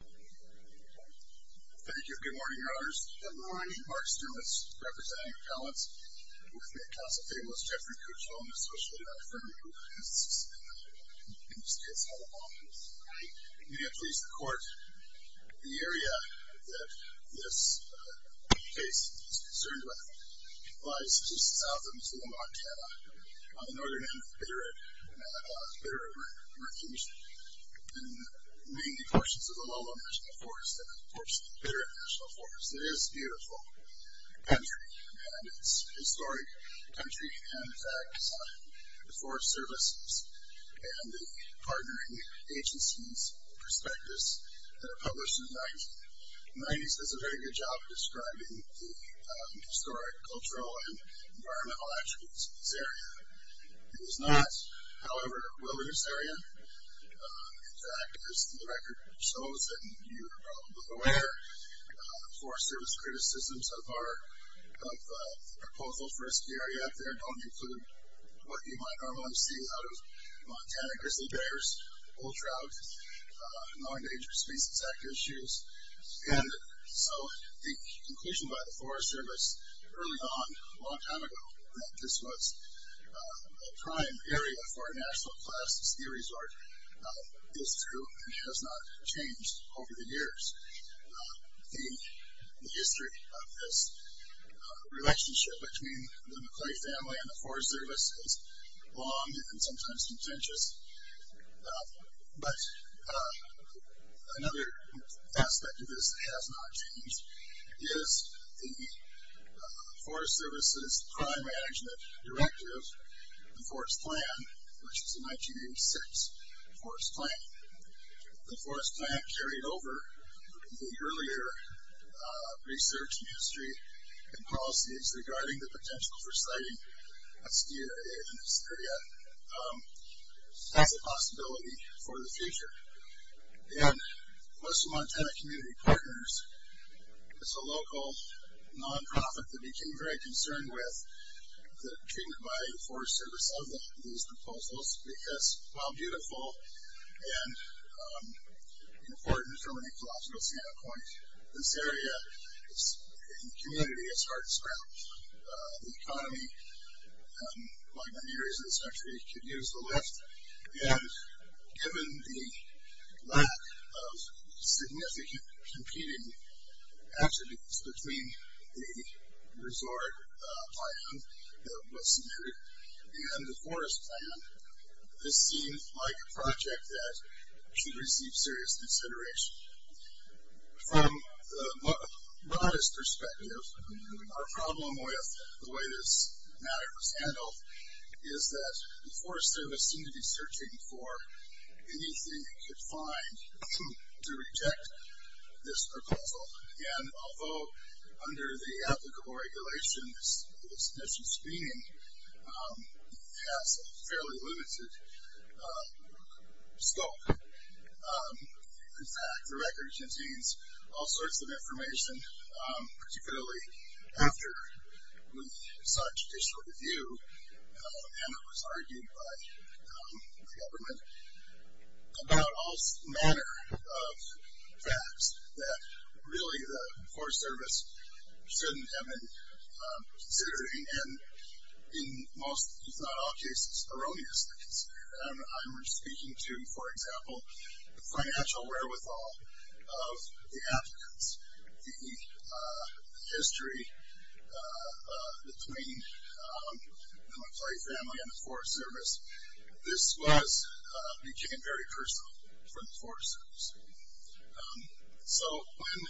Thank you. Good morning, Your Honors. Good morning. Mark Stimlitz, representing Appellants. With me at counsel today was Jeffrey Kuchel, Associate Attorney for Immigrants. In this case, I will immediately report the area that this case is concerned with. It lies just south of Missoula, Montana, on the northern end of the Bitter End, at Bitter End Refuge, in mainly portions of the Lowland National Forest and, of course, the Bitter End National Forest. It is a beautiful country, and it's a historic country. And, in fact, the Forest Service and the partnering agencies will respect this. They were published in the 90s. The 90s does a very good job of describing the historic cultural and environmental attributes of this area. It is not, however, a wilderness area. In fact, as the record shows, and you are probably aware, Forest Service criticisms of the proposal for this area out there don't include what you might normally see out of Montana, Grizzly Bears, bull trout, non-dangerous species, active issues. And so the conclusion by the Forest Service early on, a long time ago, that this was a prime area for a national class ski resort is true and has not changed over the years. The history of this relationship between the McClay family and the Forest Service is long and sometimes contentious. But another aspect of this that has not changed is the Forest Service's Crime Management Directive, the Forest Plan, which was the 1986 Forest Plan. The Forest Plan carried over the earlier research and history and policies regarding the potential for citing a ski area in this area. That's a possibility for the future. And most of the Montana community partners, it's a local non-profit that became very concerned with the treatment by the Forest Service of these proposals because while beautiful and important from an ecological standpoint, this area, the community, is hard to scrap. The economy, like many areas in this country, could use the lift. And given the lack of significant competing attributes between the resort plan that was submitted and the Forest Plan, this seems like a project that should receive serious consideration. From the broadest perspective, our problem with the way this matter was handled is that the Forest Service seemed to be searching for anything it could find to reject this proposal. And although under the applicable regulations, this mission speeding has a fairly limited scope. In fact, the record contains all sorts of information, particularly after we sought judicial review, and it was argued by the government, about all manner of facts that really the Forest Service shouldn't have been considering. And in most, if not all cases, erroneous things. I'm speaking to, for example, the financial wherewithal of the applicants, the history between the Monterey family and the Forest Service. This became very personal for the Forest Service. So when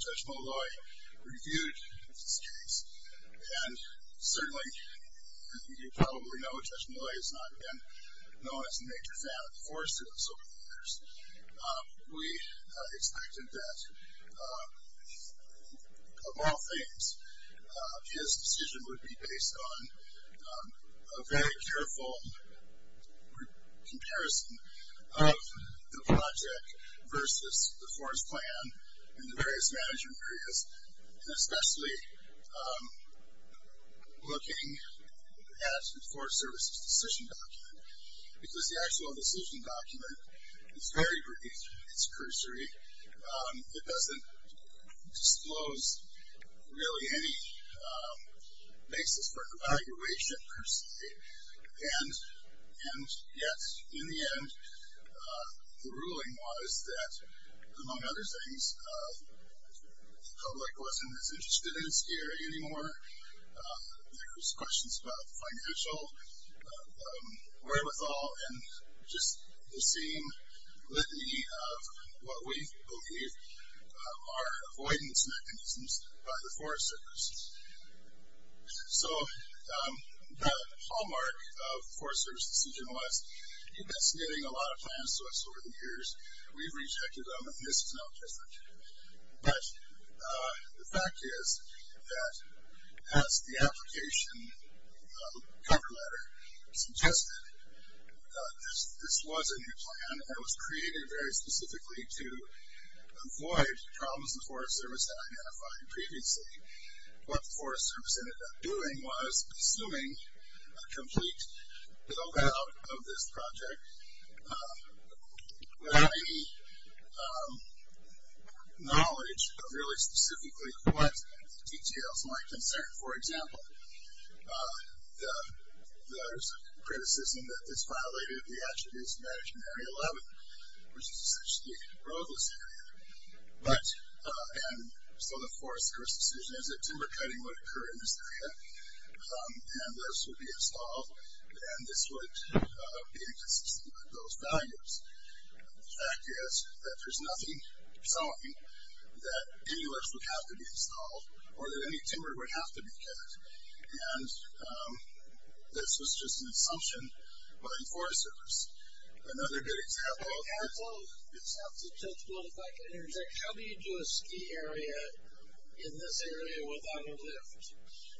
Judge Molloy reviewed this case, and certainly you probably know Judge Molloy has not been known as a major fan of the Forest Service over the years, we expected that, of all things, his decision would be based on a very careful comparison of the project versus the Forest Plan and the various management areas, and especially looking at the Forest Service's decision document. Because the actual decision document is very brief. It's cursory. It doesn't disclose really any basis for evaluation, per se. And yet, in the end, the ruling was that, among other things, the public wasn't as interested in this area anymore. There's questions about financial wherewithal, and just the same litany of what we believe are avoidance mechanisms by the Forest Service. So the hallmark of the Forest Service's decision was, it's been submitting a lot of plans to us over the years. We've rejected them, and this is no different. But the fact is that, as the application cover letter suggested, this was a new plan, and it was created very specifically to avoid problems the Forest Service had identified previously. What the Forest Service ended up doing was, assuming a complete build-out of this project, without any knowledge of really specifically what the details might concern. For example, there's a criticism that this violated the Attribution Management Area 11, which is essentially a roadless area. And so the Forest Service's decision is that timber cutting would occur in this area, and lifts would be installed, and this would be inconsistent with those values. The fact is that there's nothing telling that any lifts would have to be installed or that any timber would have to be cut, and this was just an assumption by the Forest Service. Another good example of that is... ...in this area without a lift.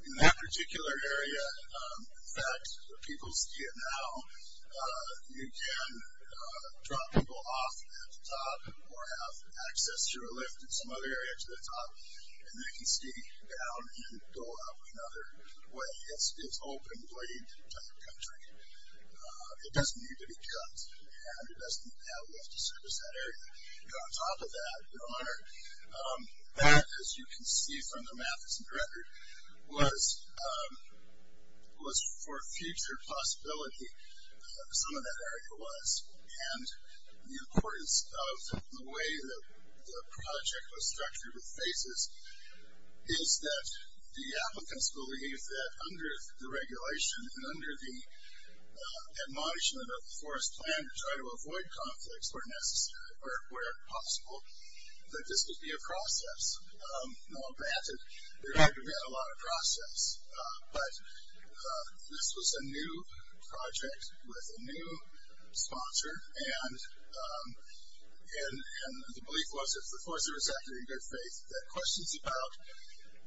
In that particular area, in fact, where people see it now, you can drop people off at the top or have access to a lift in some other area to the top, and they can ski down and go up another way. It's open blade type country. It doesn't need to be cut, and it doesn't have lifts to service that area. On top of that, Your Honor, that, as you can see from the map that's been rendered, was for future possibility, some of that area was. And the importance of the way that the project was structured with phases is that the applicants believe that under the regulation and under the admonishment of the Forest Plan to try to avoid conflicts where possible, that this would be a process. No one granted. There had to have been a lot of process. But this was a new project with a new sponsor, and the belief was if the Forest Service acted in good faith, that questions about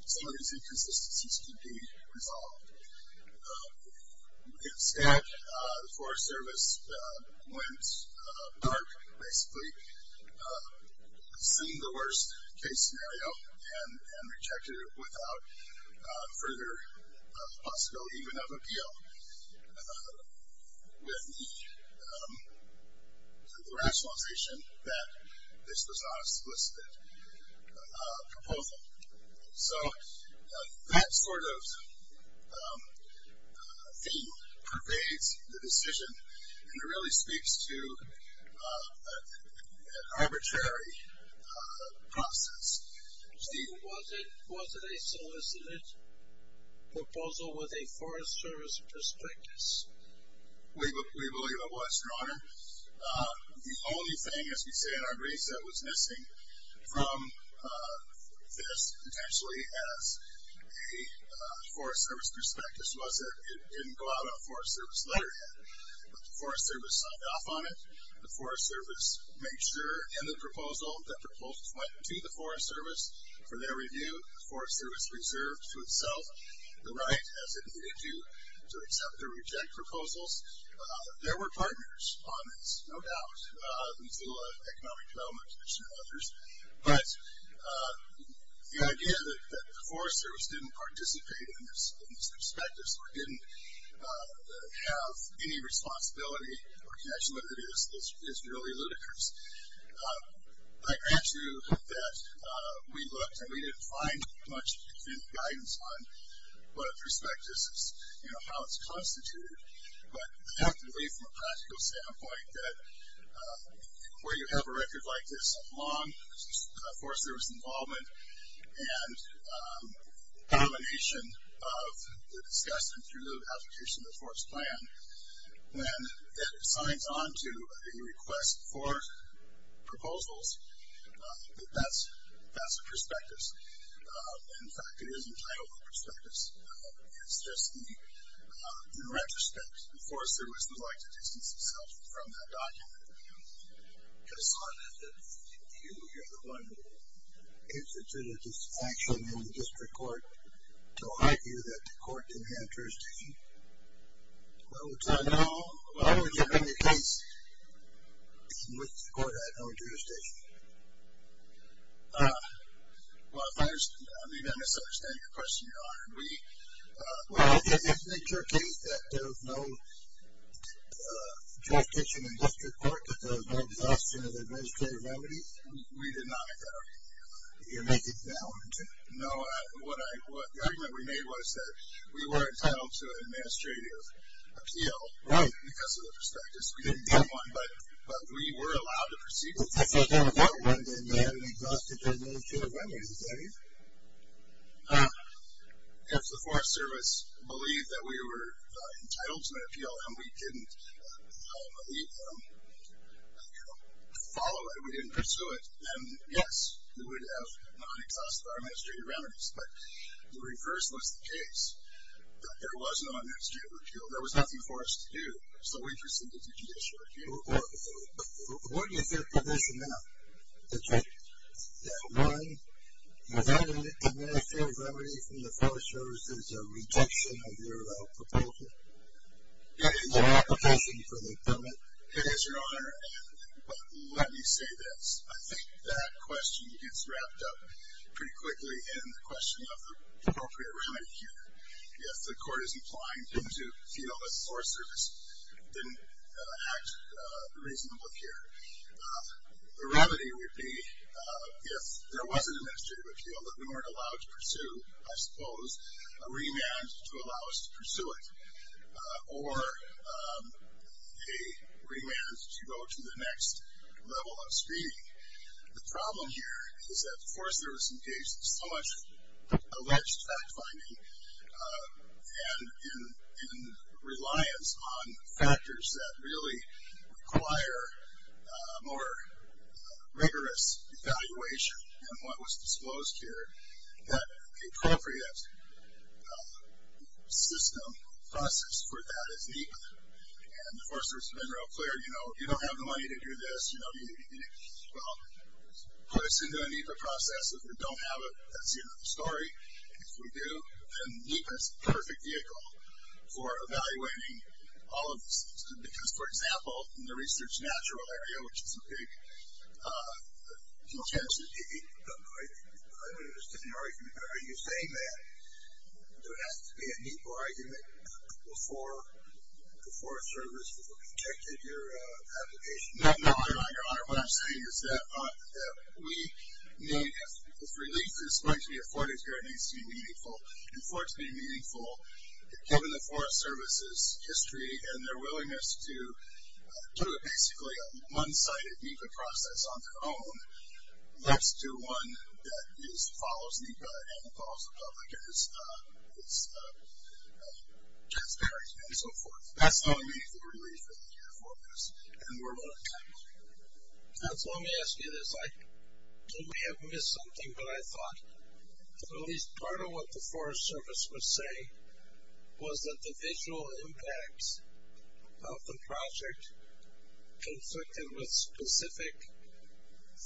some of these inconsistencies could be resolved. Instead, the Forest Service went dark, basically, assumed the worst case scenario and rejected it without further possibility even of appeal with the rationalization that this was not a solicited proposal. So that sort of theme pervades the decision, and it really speaks to an arbitrary process. Steve? Was it a solicited proposal with a Forest Service perspective? We believe it was, Your Honor. The only thing, as we say in our grace, that was missing from this potentially as a Forest Service perspective was that it didn't go out on a Forest Service letterhead. But the Forest Service signed off on it. The Forest Service made sure in the proposal that proposals went to the Forest Service for their review. The Forest Service reserved for itself the right, as it needed to, to accept or reject proposals. There were partners on this, no doubt, the Missoula Economic Development Commission and others. But the idea that the Forest Service didn't participate in these perspectives or didn't have any responsibility or connection with it is really ludicrous. I grant you that we looked and we didn't find much definitive guidance on what a prospectus is, you know, how it's constituted. But I have to say from a practical standpoint that where you have a record like this, a long Forest Service involvement and domination of the discussion through the application of the Forest Plan, when it signs on to a request for proposals, that that's a prospectus. In fact, it is entitled a prospectus. It's just the retrospect. The Forest Service would like to distance itself from that document. I just thought that you, you're the one who instituted this action in the district court to argue that the court didn't have jurisdiction. Why would you bring the case in which the court had no jurisdiction? Well, if I'm misunderstanding your question, Your Honor, we Well, isn't it your case that there's no jurisdiction in district court because there's no exhaustion of the administrative remedy? We did not make that argument. You're making it now? No, what I, the argument we made was that we were entitled to an administrative appeal. Right. Because of the prospectus. We didn't get one, but we were allowed to proceed with it. If the court wanted to have an exhaustive administrative remedy, is that it? If the Forest Service believed that we were entitled to an appeal and we didn't follow it, we didn't pursue it, then, yes, we would have non-exhausted our administrative remedies. But the reverse was the case. There was no administrative appeal. There was nothing for us to do. So we proceeded to judicial appeal. What is your position now? That one, without an administrative remedy from the Forest Service, there's a rejection of your proposal? It is an application for the government. It is, Your Honor. But let me say this. I think that question gets wrapped up pretty quickly in the question of the appropriate remedy here. If the court is implying to feel that the Forest Service didn't act reasonably here, the remedy would be if there was an administrative appeal that we weren't allowed to pursue, I suppose, a remand to allow us to pursue it, or a remand to go to the next level of screening. The problem here is that the Forest Service engaged in so much alleged fact-finding and in reliance on factors that really require more rigorous evaluation than what was disclosed here that the appropriate system process for that is NEPA. And the Forest Service has been real clear, you know, you don't have the money to do this. You know, well, put us into a NEPA process. If we don't have it, that's another story. If we do, then NEPA is the perfect vehicle for evaluating all of this. Because, for example, in the research natural area, which is a big potential. I don't understand your argument. Are you saying that there has to be a NEPA argument before the Forest Service rejected your application? No, Your Honor. What I'm saying is that we need, if relief is going to be afforded here, it needs to be meaningful. And for it to be meaningful, given the Forest Service's history and their willingness to do basically a one-sided NEPA process on their own, let's do one that follows NEPA and follows the public and is transparent and so forth. That's how we need the relief in the year for this. And we're running out of time. Let me ask you this. I may have missed something, but I thought at least part of what the Forest Service would say was that the visual impacts of the project conflicted with specific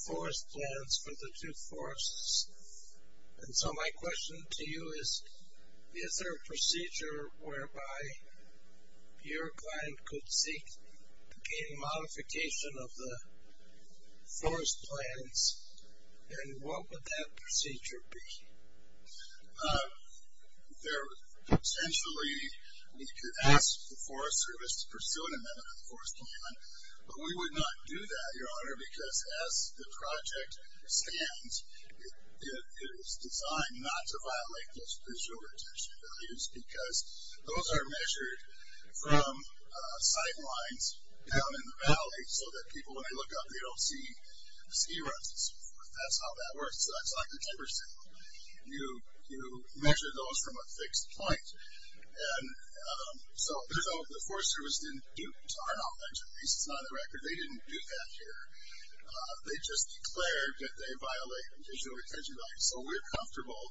forest plans for the two forests. And so my question to you is, is there a procedure whereby your client could seek a modification of the forest plans, and what would that procedure be? Essentially, we could ask the Forest Service to pursue an amendment of the Forest Command, but we would not do that, Your Honor, because as the project stands, it is designed not to violate those visual retention values because those are measured from sidelines down in the valley so that people, when they look up, they don't see ski runs and so forth. That's how that works. So that's like the timber sale. You measure those from a fixed point. And so the Forest Service didn't do tarn off, at least not on the record. They didn't do that here. They just declared that they violate visual retention values. So we're comfortable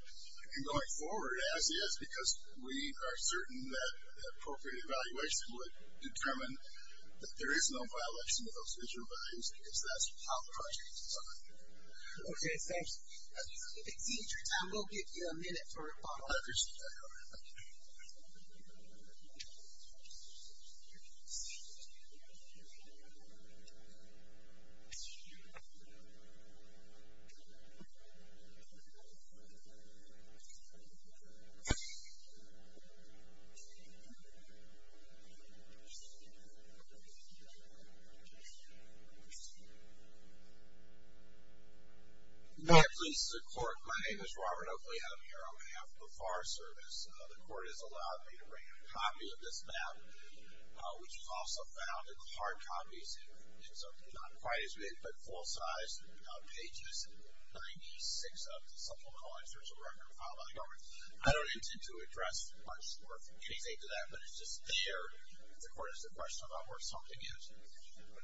in going forward as is because we are certain that appropriate evaluation would determine that there is no violation of those visual values because that's how the project is designed. Okay, thanks. If it exceeds your time, we'll give you a minute for a follow-up. Yes, Your Honor. May it please the Court, my name is Robert Oakley. I'm here on behalf of the Forest Service. The Court has allowed me to bring a copy of this map, which was also found in hard copies. It's not quite as big, but full-sized, pages 96 of the supplemental insertion record filed by the government. I don't intend to address much or anything to that, but it's just there if the Court has a question about where something is.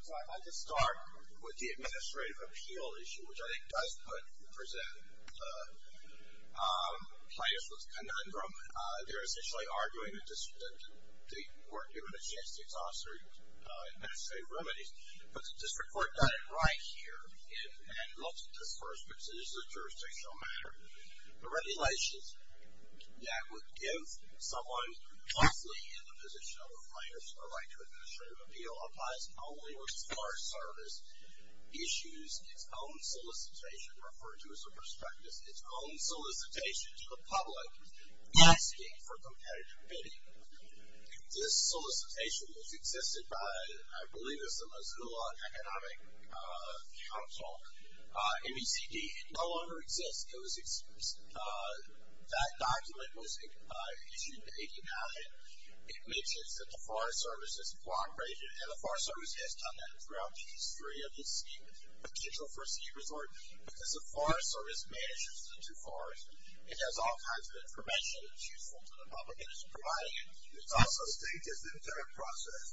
So I'd like to start with the administrative appeal issue, which I think does present plaintiffs with a conundrum. They're essentially arguing that the Court given a chance to exhaust their administrative remedies, but the District Court got it right here and looked at this first because this is a jurisdictional matter. The regulations that would give someone possibly in the position of a plaintiff a right to administrative appeal applies only when Forest Service issues its own solicitation, referred to as a prospectus, its own solicitation to the public asking for competitive bidding. This solicitation was existed by, I believe it was the Missoula Economic Council, MECD. It no longer exists. It was, that document was issued in 89. It mentions that the Forest Service has block-raised it, and the Forest Service has done that throughout these three of these, with the Central First City Resort, because the Forest Service manages the two forests. It has all kinds of information that's useful to the public, and it's providing it. I also think this entire process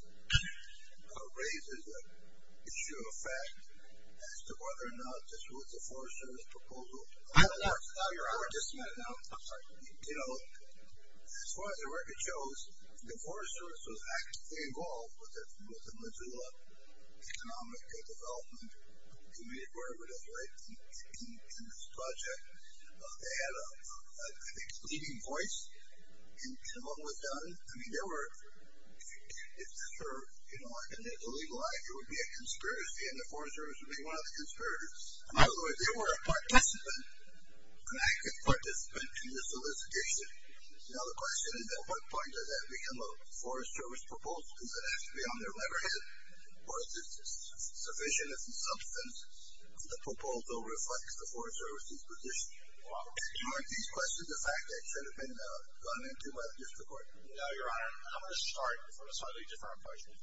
raises the issue of fact as to whether or not this was a Forest Service proposal. I don't know. I just met it now. I'm sorry. You know, as far as the record shows, the Forest Service was actively involved with the Missoula Economic Development Committee, whatever it is, right, in this project. They had a, I think, leading voice in what was done. I mean, there were, it's for, you know, like in the legal eye it would be a conspiracy, and the Forest Service would be one of the conspirators. By the way, they were a participant, an active participant in this solicitation. Now, the question is, at what point does that become a Forest Service proposal? Does it have to be on their letterhead? Or is it sufficient as a substance that the proposal reflects the Forest Service's position? Are these questions the fact that it should have been done into a gift report? No, Your Honor. I'm going to start with a slightly different question.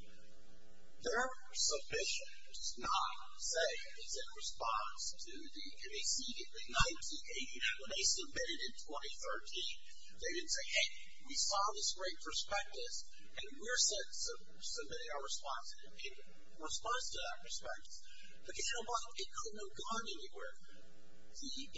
Their submission does not say it's in response to the NACD in 1980. When they submitted it in 2013, they didn't say, Hey, we saw this great prospectus, and we're submitting our response to that prospectus. But you know what? It couldn't have gone anywhere. The NACD documented it in 1989. Well, maybe it could have gone anywhere, but the question is, did the forester have the obligation to review it administratively? Well, we did review the proposal. No, no, no. The forester said, oh, you're talking about the resale forest. That's right. Let me just stick on the point, though.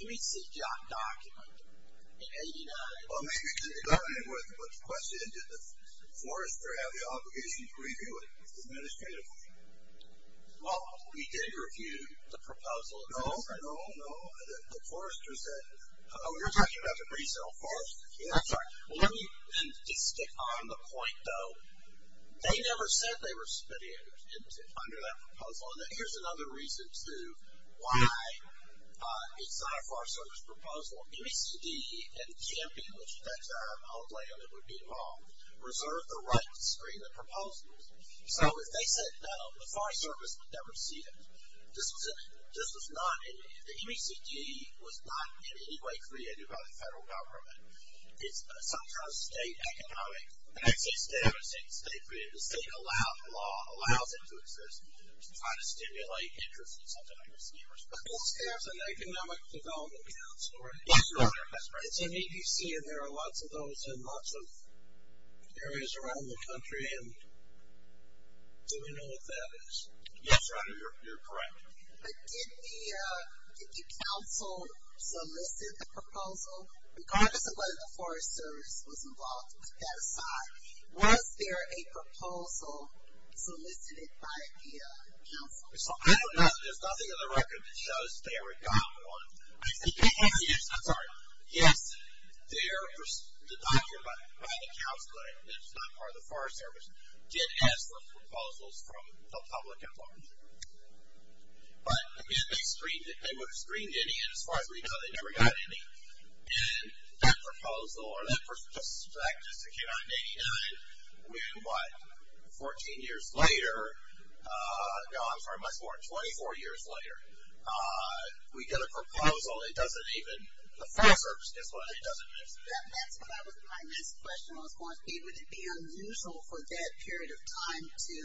They never said they were submitting it under that proposal. And here's another reason to why it's not a Forest Service proposal. NACD and the champion, which at that time, I don't blame them, it would be wrong, reserved the right to screen the proposals. So if they said no, the Forest Service would never see it. The NACD was not in any way created by the federal government. It's sometimes state economic access to it. It's state-created. The state-allowed law allows it to exist. It's trying to stimulate interest in something like receivership. It's an economic development council. That's right. It's an EDC, and there are lots of those in lots of areas around the country. Do we know what that is? Yes, Rhonda, you're correct. But did the council solicit the proposal? Regardless of whether the Forest Service was involved, put that aside, was there a proposal solicited by the council? I don't know. There's nothing on the record that shows they ever got one. I'm sorry. Yes, the document by the council, which is not part of the Forest Service, did ask for proposals from the public at large. But, again, they screened any, and as far as we know, they never got any. And that proposal, or that perspective, came out in 89, when what, 14 years later, no, I'm sorry, much more, 24 years later, we get a proposal that doesn't even, the Forest Service gets one that doesn't exist. That's what I was, my next question was, would it be unusual for that period of time to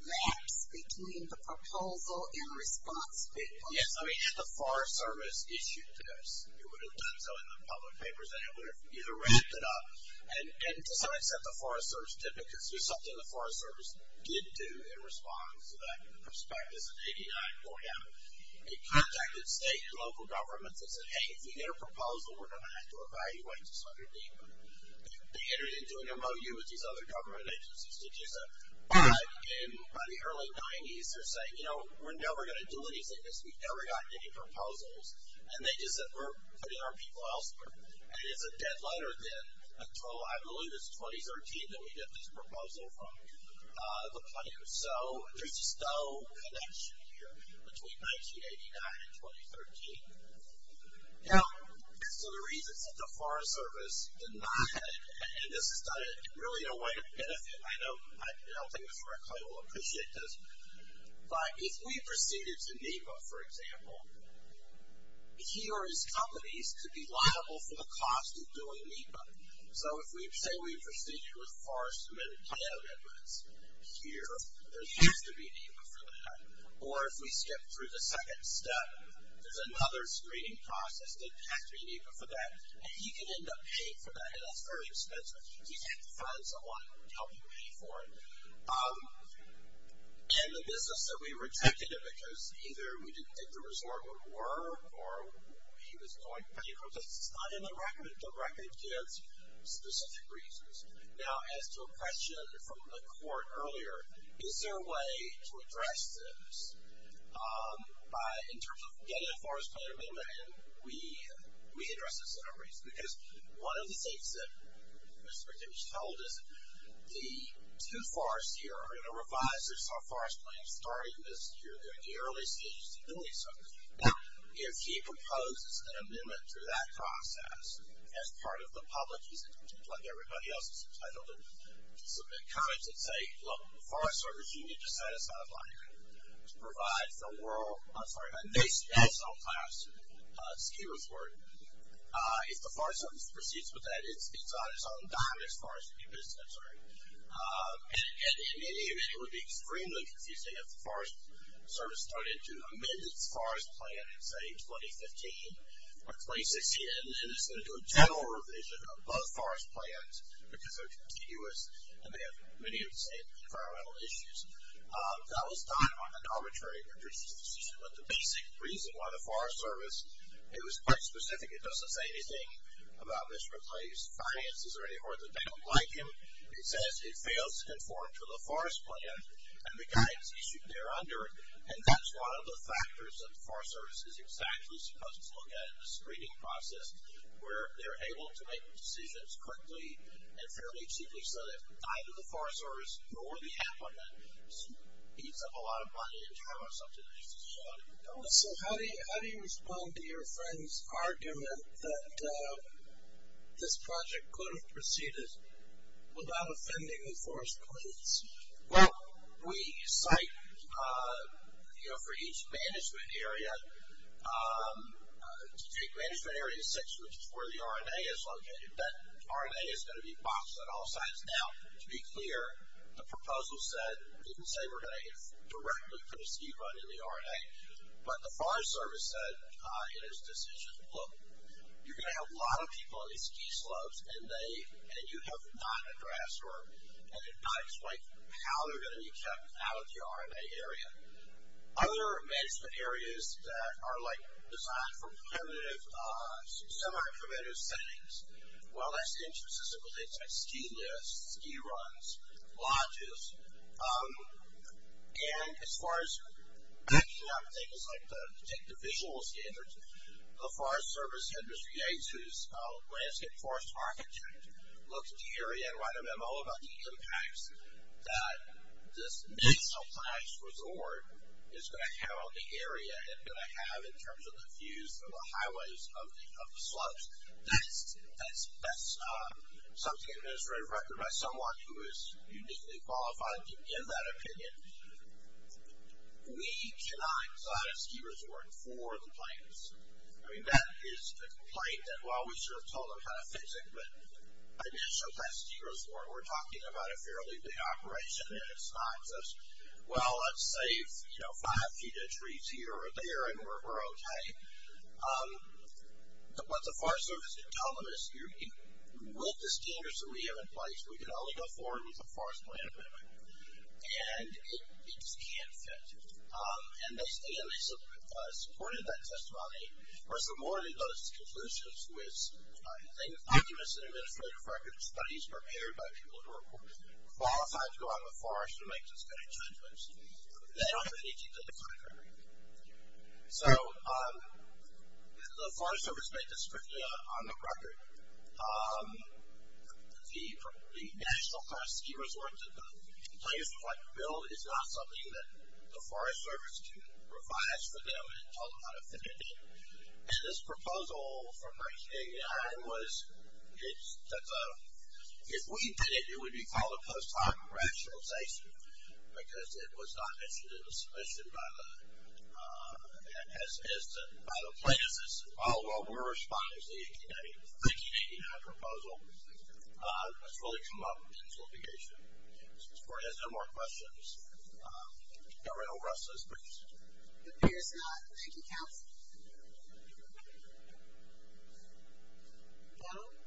lapse between the proposal and response from the public? Yes, I mean, had the Forest Service issued this, it would have done so in the public papers, and it would have either wrapped it up, and to some extent the Forest Service did, because it was something the Forest Service did do in response to that perspective. It's in 89 going down. It contacted state and local governments and said, hey, if we get a proposal, we're going to have to evaluate this under deeper. They entered into an MOU with these other government agencies to do so. But, by the early 90s, they're saying, you know, we're never going to do anything. We've never gotten any proposals. And they just said, we're putting our people elsewhere. And it's a dead letter then until, I believe it's 2013, that we get this proposal from the public. So there's just no connection here between 1989 and 2013. Now, there's other reasons that the Forest Service did not, and this is not really a way to benefit. I don't think Mr. McCoy will appreciate this. But if we proceeded to NEPA, for example, he or his companies could be liable for the cost of doing NEPA. So if we say we proceeded with forest submitted plan amendments here, there has to be NEPA for that. Or if we skip through the second step, there's another screening process. There has to be NEPA for that. And he could end up paying for that, and that's very expensive. You have to find someone to help you pay for it. And the business that we rejected it because either we didn't think the resort would work or he was going to pay for it. It's not in the record. The record gives specific reasons. Now, as to a question from the court earlier, is there a way to address this in terms of getting a forest plan amendment? And we addressed this in our briefs. Because one of the things that Mr. Dickens told us, the two forests here are in a revised or sub-forest plan starting this year, they're in the early stages of doing so. If he proposes an amendment to that process as part of the public, like everybody else is entitled to submit comments that say, look, the Forest Service needs to satisfy to provide for world, I'm sorry, a national class ski resort, if the Forest Service proceeds with that, it's on its own dime as far as the business is concerned. And in any event, it would be extremely confusing if the Forest Service started to amend its forest plan in, say, 2015 or 2016, and is going to do a general revision of both forest plans because they're continuous and they have many of the same environmental issues. That was done on an arbitrary basis. But the basic reason why the Forest Service, it was quite specific. It doesn't say anything about misreplaced finances or anything that they don't like him. It says it fails to conform to the forest plan and the guidance issued there under it. And that's one of the factors that the Forest Service is exactly supposed to look at in the screening process where they're able to make decisions quickly and fairly cheaply so that either the Forest Service or the applicant eats up a lot of money and time on something that needs to be done. So how do you respond to your friend's argument that this project could have proceeded without offending the forest police? Well, we cite, you know, for each management area, take management area six, which is where the R&A is located. That R&A is going to be boxed on all sides. Now, to be clear, the proposal said, it didn't say we're going to get directly for the ski run in the R&A, but the Forest Service said in its decision, look, you're going to have a lot of people on these ski slopes and you have not addressed or not explained how they're going to be kept out of the R&A area. Other management areas that are, like, designed for primitive, semi-primitive settings, well, that's the interest of simple things like ski lifts, ski runs, lodges. And as far as backing up things like the visual standards, the Forest Service Administrator, who's a landscape forest architect, looks at the area and writes a memo about the impacts that this nice, nice resort is going to have on the area and going to have in terms of the views of the highways of the slopes. That's something that is written by someone who is uniquely qualified in that opinion. We cannot design a ski resort for the plains. I mean, that is the complaint that, well, we should have told them how to fix it, but I mean, it shows that ski resort, we're talking about a fairly big operation and it's not just, well, let's save, you know, five feet of trees here or there and we're okay. What the Forest Service can tell them is, with the standards that we have in place, we can only go forward with a forest plan amendment. And it just can't fit. And they supported that testimony. Of course, there were more than those conclusions, which I think the documents in the Administrative Record of Studies prepared by people who are qualified to go out in the forest and make those kind of judgments. They don't have any detail to back that up. So the Forest Service made this strictly on the record. The National Class Ski Resort that the plaintiffs would like to build is not something that the Forest Service can revise for them and tell them how to fit it in. And this proposal from 1989 was that if we did it, it would be called a post-hoc rationalization, because it was not mentioned in the submission by the plaintiffs. While we're responding to the 1989 proposal, that's really come up in the solicitation. As far as no more questions, Gabrielle Russ says please. It appears not. Thank you, Counsel. Donald?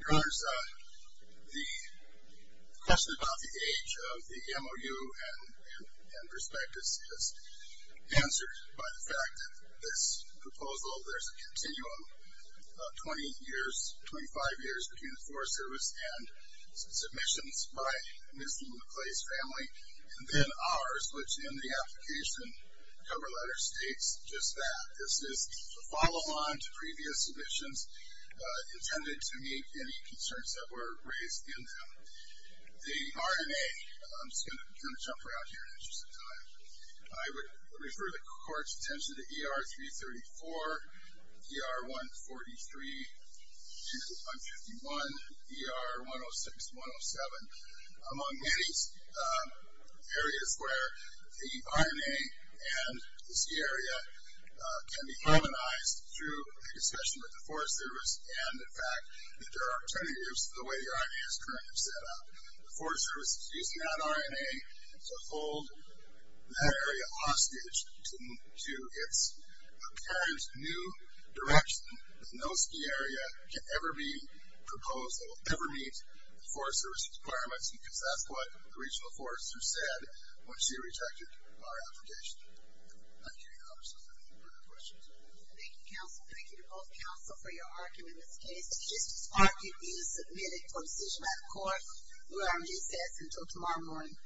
Your Honors, the question about the age of the MOU and prospectus is answered by the fact that this proposal, there's a continuum of 20 years, 25 years between the Forest Service and submissions by Ms. Lula Clay's family, and then ours, which in the application cover letter states just that. This is a follow-on to previous submissions intended to meet any concerns that were raised in them. The RNA, I'm just going to jump around here in the interest of time. I would refer the Court's attention to ER-334, ER-143, ER-151, ER-106, ER-107, among many areas where the RNA and the ski area can be harmonized through a discussion with the Forest Service and the fact that there are alternatives to the way the RNA is currently set up. The Forest Service is using that RNA to hold that area hostage to its apparent new direction that no ski area can ever be proposed that will ever meet the Forest Service's requirements because that's what the Regional Forest Service said when she rejected our application. Thank you, Your Honors. Any further questions? Thank you, Counsel. Thank you to both Counsel for your argument in this case. This argument is submitted for decision by the Court, Lula-RMJ says, until tomorrow morning.